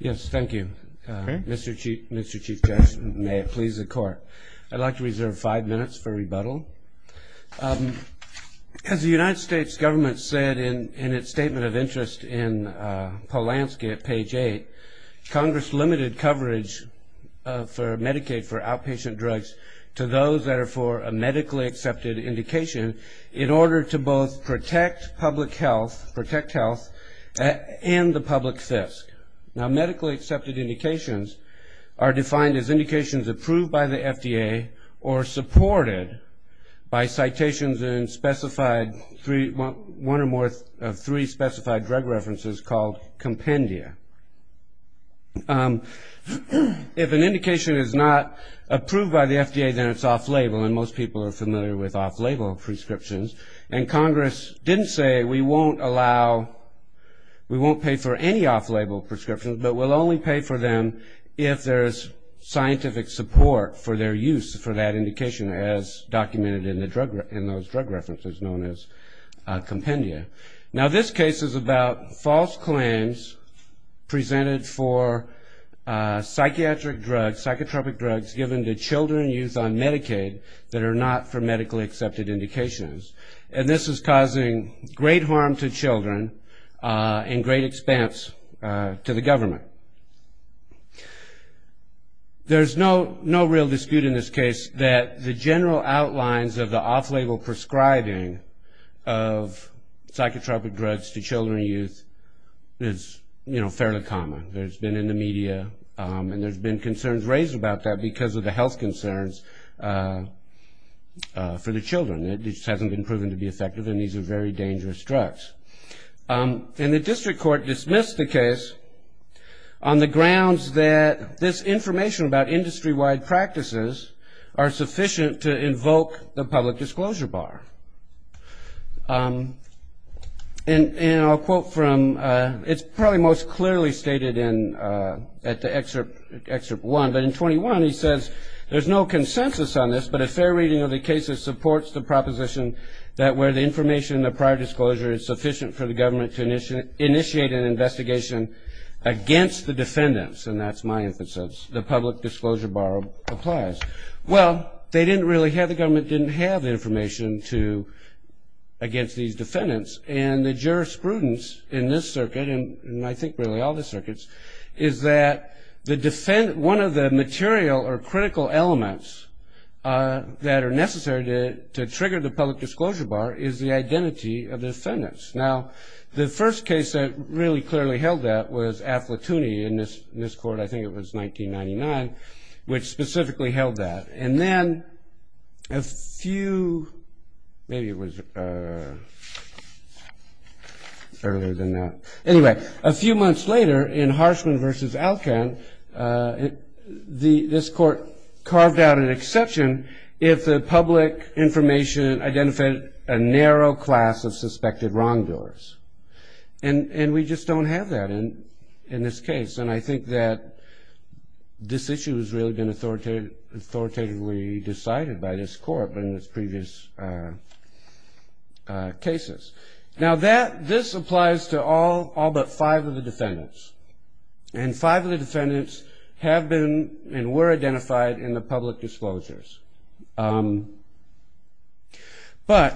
Yes, thank you. Mr. Chief Justice, may it please the Court. I'd like to reserve five minutes for rebuttal. As the United States government said in its statement of interest in Polanski at page 8, Congress limited coverage for Medicaid for outpatient drugs to those that are for a medically accepted indication in order to both protect public health and the public fisc. Now, medically accepted indications are defined as indications approved by the FDA or supported by citations in one or more of three specified drug references called compendia. If an indication is not approved by the FDA, then it's off-label, and most people are familiar with off-label prescriptions. And Congress didn't say we won't allow, we won't pay for any off-label prescriptions, but we'll only pay for them if there's scientific support for their use for that indication as documented in those drug references known as compendia. Now, this case is about false claims presented for psychiatric drugs, psychotropic drugs given to children and youth on Medicaid that are not for medically accepted indications. And this is causing great harm to children and great expense to the government. There's no real dispute in this case that the general outlines of the off-label prescribing of psychotropic drugs to children and youth is, you know, fairly common. There's been in the media, and there's been concerns raised about that because of the health concerns for the children. It just hasn't been proven to be effective, and these are very dangerous drugs. And the district court dismissed the case on the grounds that this information about industry-wide practices are sufficient to invoke the public disclosure bar. And I'll quote from, it's probably most clearly stated at the excerpt one, but in 21 he says, there's no consensus on this, but a fair reading of the case supports the proposition that where the information and the prior disclosure is sufficient for the government to initiate an investigation against the defendants, and that's my emphasis, the public disclosure bar applies. Well, they didn't really have, the government didn't have information against these defendants, and the jurisprudence in this circuit, and I think really all the circuits, is that one of the material or critical elements that are necessary to trigger the public disclosure bar is the identity of the defendants. Now, the first case that really clearly held that was Affletooney in this court, I think it was 1999, which specifically held that. And then a few, maybe it was earlier than that. Anyway, a few months later in Harshman v. Alcan, this court carved out an exception if the public information identified a narrow class of suspected wrongdoers. And we just don't have that in this case. And I think that this issue has really been authoritatively decided by this court in its previous cases. Now, this applies to all but five of the defendants. And five of the defendants have been and were identified in the public disclosures. But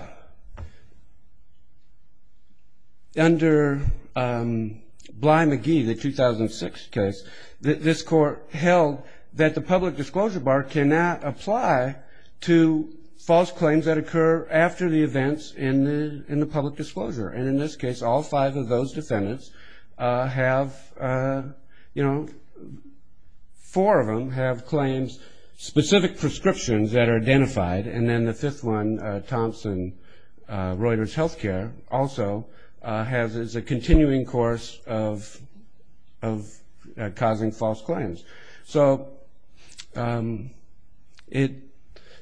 under Bly-McGee, the 2006 case, this court held that the public disclosure bar cannot apply to false claims that occur after the events in the public disclosure. And in this case, all five of those defendants have, you know, four of them have claims, specific prescriptions that are identified. And then the fifth one, Thomson Reuters Healthcare, also has a continuing course of causing false claims. So it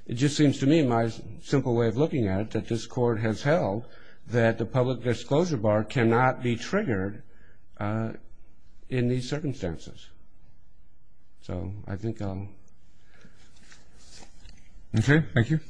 just seems to me, my simple way of looking at it, that this court has held that the public disclosure bar cannot be triggered in these circumstances. So I think I'll... Okay, thank you.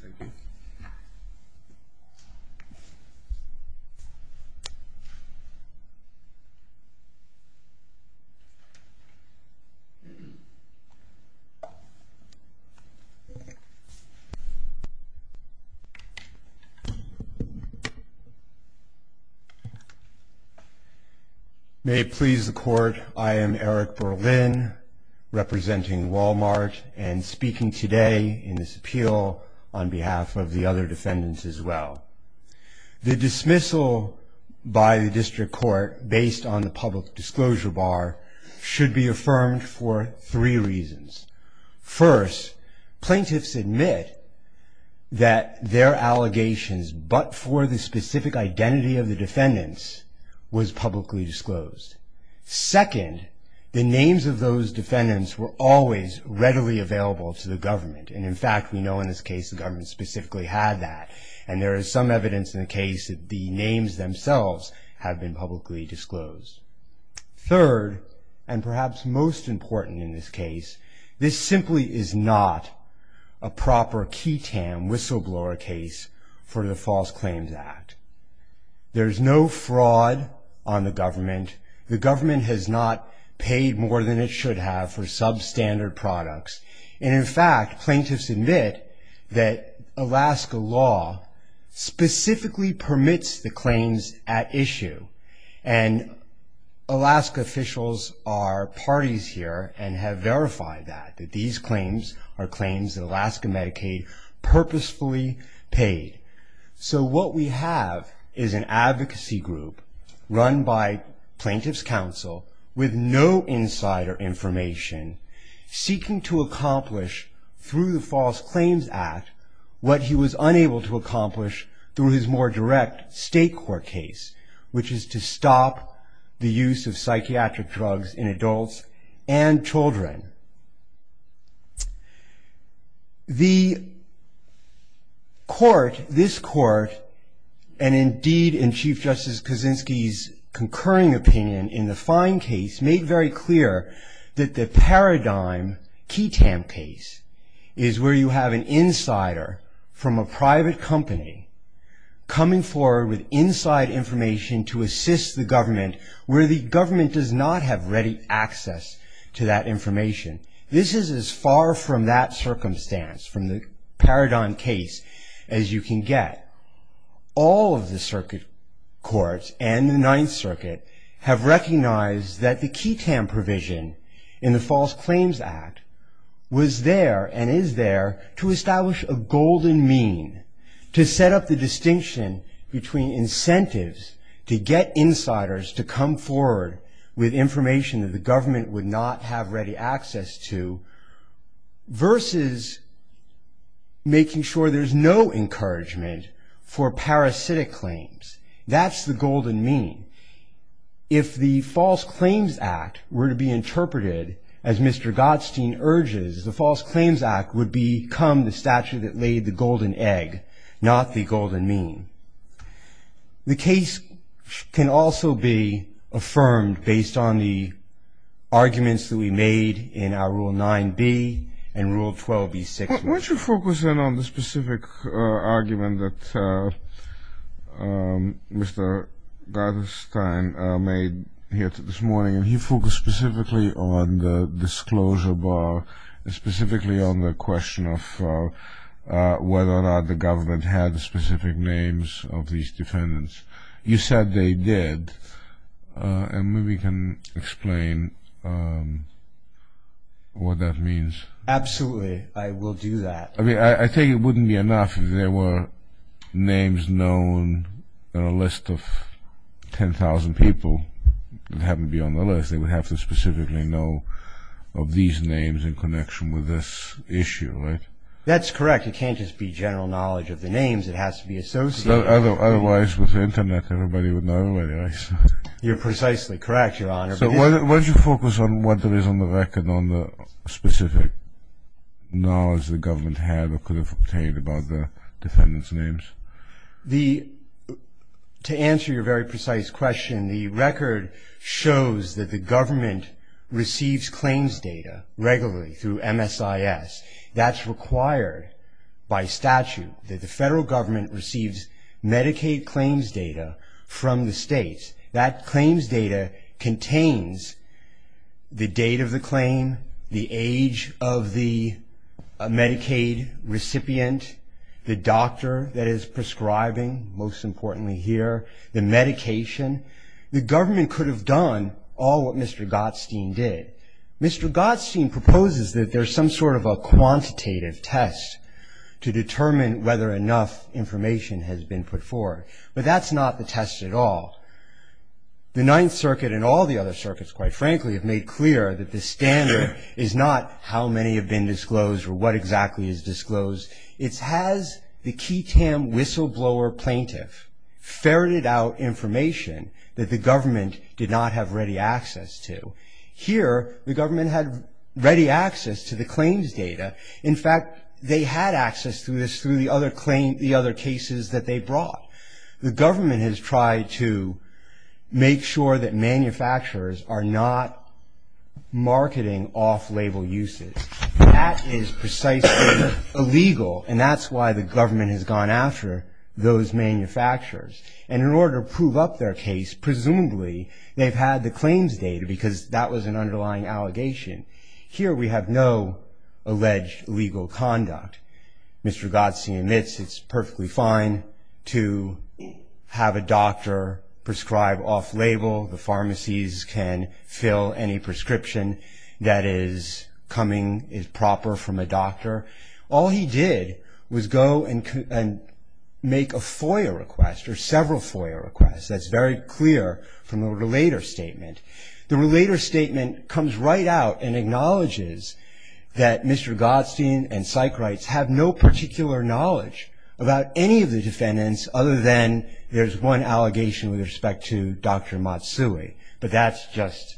May it please the court, I am Eric Berlin, representing Walmart, and speaking today in this appeal on behalf of the other defendants as well. The dismissal by the district court based on the public disclosure bar should be affirmed for three reasons. First, plaintiffs admit that their allegations, but for the specific identity of the defendants, was publicly disclosed. Second, the names of those defendants were always readily available to the government. And in fact, we know in this case the government specifically had that. And there is some evidence in the case that the names themselves have been publicly disclosed. Third, and perhaps most important in this case, this simply is not a proper key-tam whistleblower case for the False Claims Act. There's no fraud on the government. The government has not paid more than it should have for substandard products. And in fact, plaintiffs admit that Alaska law specifically permits the claims at issue. And Alaska officials are parties here and have verified that, that these claims are claims that Alaska Medicaid purposefully paid. So what we have is an advocacy group run by plaintiff's counsel with no insider information seeking to accomplish through the False Claims Act what he was unable to accomplish through his more direct state court case, which is to stop the use of psychiatric drugs in adults and children. The court, this court, and indeed in Chief Justice Kaczynski's concurring opinion in the fine case made very clear that the paradigm key-tam case is where you have an insider from a private company coming forward with inside information to assist the government where the government does not have ready access to that information. This is as far from that circumstance, from the paradigm case, as you can get. All of the circuit courts and the Ninth Circuit have recognized that the key-tam provision in the False Claims Act was there and is there to establish a golden mean, to set up the distinction between incentives to get insiders to come forward with information that the government would not have ready access to versus making sure there's no encouragement for parasitic claims. That's the golden mean. If the False Claims Act were to be interpreted as Mr. Godstein urges, the False Claims Act would become the statute that laid the golden egg, not the golden mean. The case can also be affirmed based on the arguments that we made in our Rule 9b and Rule 12b6. Why don't you focus in on the specific argument that Mr. Godstein made here this morning, and he focused specifically on the disclosure bar, specifically on the question of whether or not the government had specific names of these defendants. You said they did, and maybe you can explain what that means. Absolutely, I will do that. I mean, I think it wouldn't be enough if there were names known on a list of 10,000 people that happen to be on the list, they would have to specifically know of these names in connection with this issue, right? That's correct, it can't just be general knowledge of the names, it has to be associated... Otherwise, with the Internet, everybody would know everybody, right? You're precisely correct, Your Honor. So why don't you focus on what there is on the record, on the specific knowledge the government had or could have obtained about the defendants' names. To answer your very precise question, the record shows that the government receives claims data regularly through MSIS. That's required by statute, that the federal government receives Medicaid claims data from the states, and that claims data contains the date of the claim, the age of the Medicaid recipient, the doctor that is prescribing, most importantly here, the medication. The government could have done all what Mr. Gottstein did. Mr. Gottstein proposes that there's some sort of a quantitative test to determine whether enough information has been put forward, but that's not the test at all. The Ninth Circuit and all the other circuits, quite frankly, have made clear that the standard is not how many have been disclosed or what exactly is disclosed, it has the key TAM whistleblower plaintiff ferreted out information that the government did not have ready access to. Here, the government had ready access to the claims data. In fact, they had access to this through the other cases that they brought. The government has tried to make sure that manufacturers are not marketing off-label uses. That is precisely illegal, and that's why the government has gone after those manufacturers. And in order to prove up their case, presumably they've had the claims data because that was an underlying allegation. Here we have no alleged legal conduct. Mr. Gottstein admits it's perfectly fine to have a doctor prescribe off-label. The pharmacies can fill any prescription that is coming, is proper from a doctor. All he did was go and make a FOIA request or several FOIA requests. That's very clear from the relator statement. The relator statement comes right out and acknowledges that Mr. Gottstein and psych rights have no particular knowledge about any of the defendants other than there's one allegation with respect to Dr. Matsui, but that's just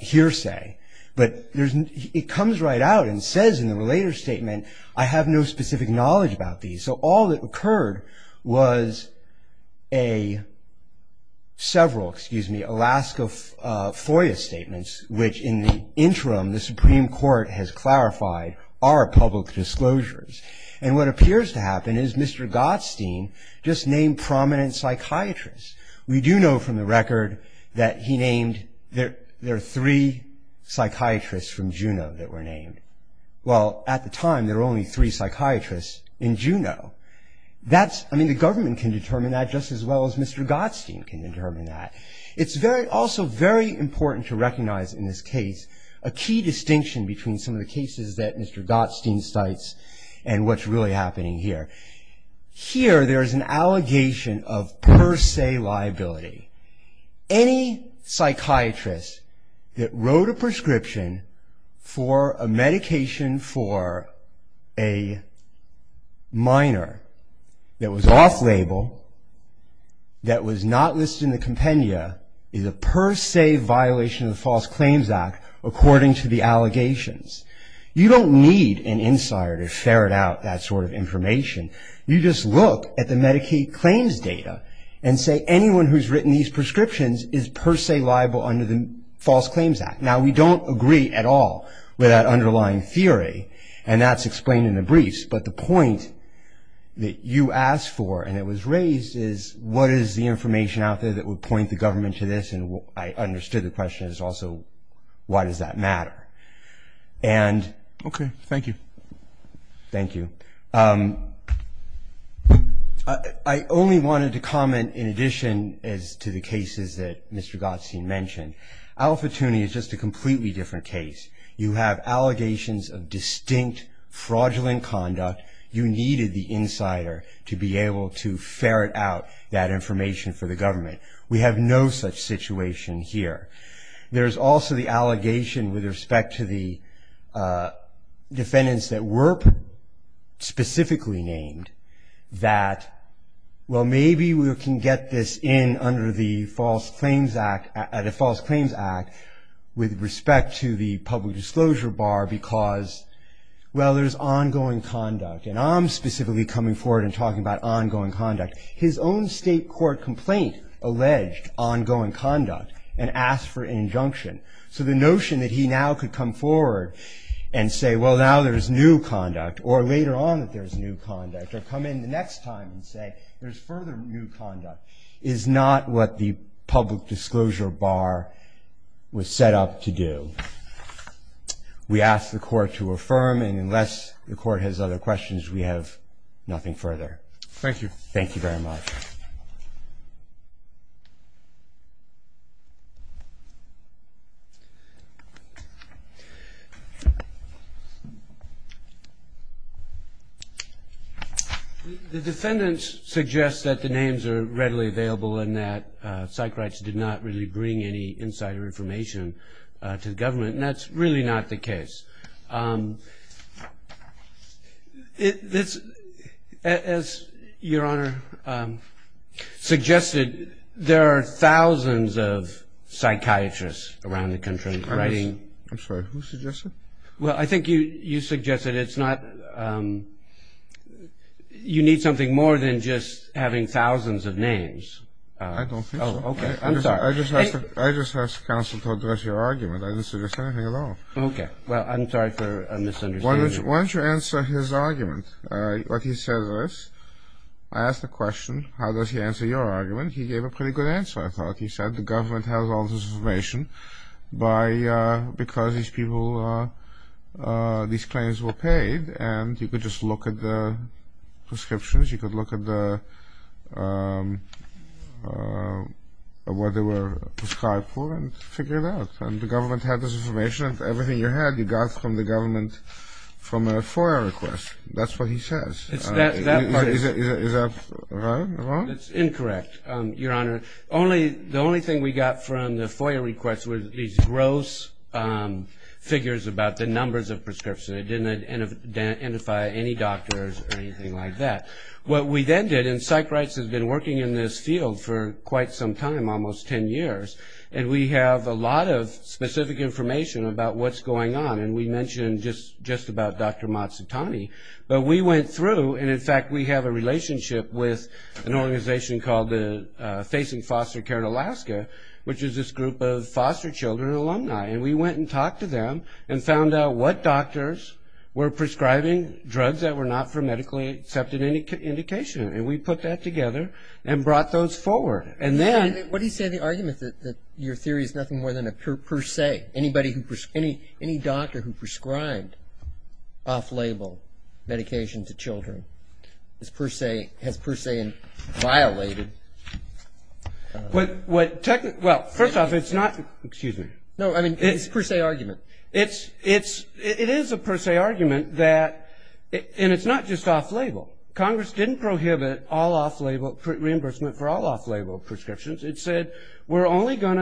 hearsay. It comes right out and says in the relator statement, I have no specific knowledge about these. So all that occurred was several Alaska FOIA statements, which in the interim the Supreme Court has clarified are public disclosures. And what appears to happen is Mr. Gottstein just named prominent psychiatrists. We do know from the record that he named, there are three psychiatrists from Juneau that were named. Well, at the time there were only three psychiatrists in Juneau. The government can determine that just as well as Mr. Gottstein can determine that. It's also very important to recognize in this case a key distinction between some of the cases that Mr. Gottstein cites and what's really happening here. Here there's an allegation of per se liability. Any psychiatrist that wrote a prescription for a medication for a minor that was off-label, that was not listed in the compendia is a per se violation of the False Claims Act according to the allegations. You don't need an insider to ferret out that sort of information. You just look at the Medicaid claims data and say anyone who's written these prescriptions is per se liable under the False Claims Act. Now, we don't agree at all with that underlying theory, and that's explained in the briefs. But the point that you asked for and it was raised is what is the information out there that would point the government to this? And I understood the question is also why does that matter? Okay, thank you. I only wanted to comment in addition to the cases that Mr. Gottstein mentioned. Alpha Tuning is just a completely different case. You have allegations of distinct fraudulent conduct. You needed the insider to be able to ferret out that information for the government. We have no such situation here. There's also the allegation with respect to the defendants that were specifically named that, well, maybe we can get this in under the False Claims Act with respect to the public disclosure bar because, well, there's ongoing conduct. And I'm specifically coming forward and talking about ongoing conduct. His own state court complaint alleged ongoing conduct and asked for an injunction. So the notion that he now could come forward and say, well, now there's new conduct, or later on that there's new conduct, or come in the next time and say there's further new conduct, is not what the public disclosure bar was set up to do. We ask the Court to affirm, and unless the Court has other questions, we have nothing further. Thank you. Thank you very much. The defendants suggest that the names are readily available and that Sykrites did not really bring any insider information to the government, and that's really not the case. As Your Honor suggested, there are thousands of psychiatrists around the country writing... I'm sorry, who suggested? You need something more than just having thousands of names. I don't think so. Okay, I'm sorry. I just asked counsel to address your argument. I didn't suggest anything at all. Okay, well, I'm sorry for a misunderstanding. Why don't you answer his argument? What he says is, I asked a question, how does he answer your argument? He said the government has all this information because these people, these claims were paid, and you could just look at the prescriptions, you could look at what they were prescribed for and figure it out. And the government had this information, and everything you had you got from the government from a FOIA request. That's what he says. Is that right or wrong? That's incorrect, Your Honor. The only thing we got from the FOIA request was these gross figures about the numbers of prescriptions. It didn't identify any doctors or anything like that. What we then did, and Sykrites has been working in this field for quite some time, almost 10 years, and we have a lot of specific information about what's going on. And we mentioned just about Dr. Matsutani. But we went through, and in fact we have a relationship with an organization called Facing Foster Care in Alaska, which is this group of foster children alumni. And we went and talked to them and found out what doctors were prescribing drugs that were not for medically accepted indication. And we put that together and brought those forward. What do you say to the argument that your theory is nothing more than a per se? Any doctor who prescribed off-label medication to children has per se violated? Well, first off, it's not. No, I mean, it's a per se argument. It is a per se argument, and it's not just off-label. Congress didn't prohibit reimbursement for all off-label prescriptions. It said we're only going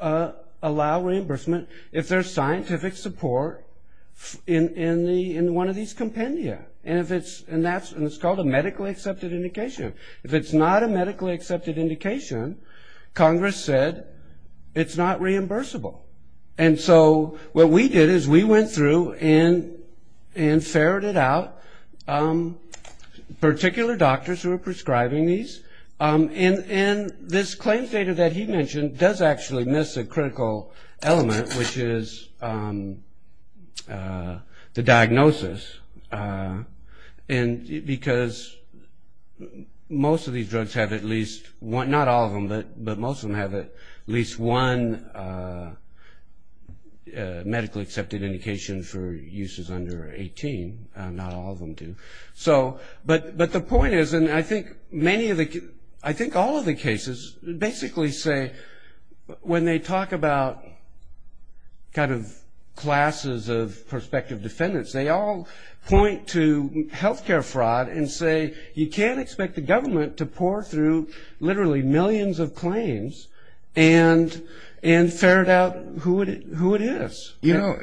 to allow reimbursement if there's scientific support in one of these compendia. And it's called a medically accepted indication. If it's not a medically accepted indication, Congress said it's not reimbursable. And so what we did is we went through and ferreted out particular doctors who were prescribing these. And this claims data that he mentioned does actually miss a critical element, which is the diagnosis. Because most of these drugs have at least one, not all of them, but most of them have at least one, medically accepted indication for uses under 18, not all of them do. But the point is, and I think all of the cases basically say when they talk about kind of classes of prospective defendants, they all point to health care fraud and say you can't expect the government to pour through literally millions of claims and ferret out who it is. You know,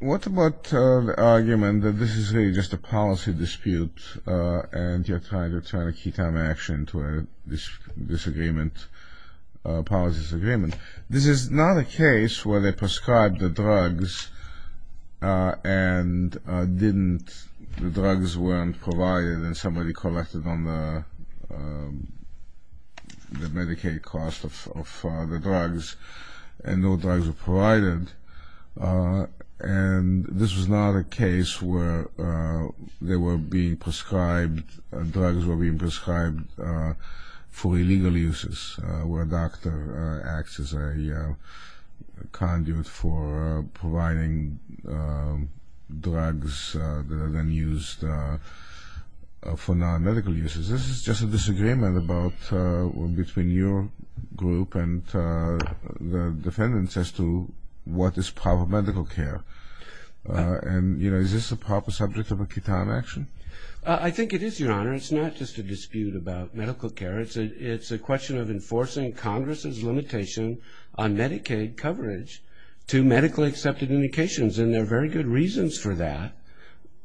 what about the argument that this is really just a policy dispute and you're trying to turn a key time action to a disagreement, a policy disagreement. This is not a case where they prescribed the drugs and didn't, the drugs weren't provided and somebody collected on the Medicaid cost of the drugs and no drugs were provided. And this was not a case where they were being prescribed, drugs were being prescribed for illegal uses, where a doctor acts as a conduit for providing drugs that are then used for illegal purposes. This is just a disagreement between your group and the defendants as to what is proper medical care. And you know, is this a proper subject of a key time action? I think it is, Your Honor. It's not just a dispute about medical care. It's a question of enforcing Congress's limitation on Medicaid coverage to medically accepted indications and there are very good reasons for that.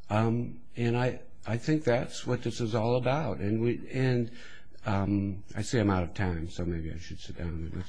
And I think that's what this is all about. I see I'm out of time, so maybe I should sit down.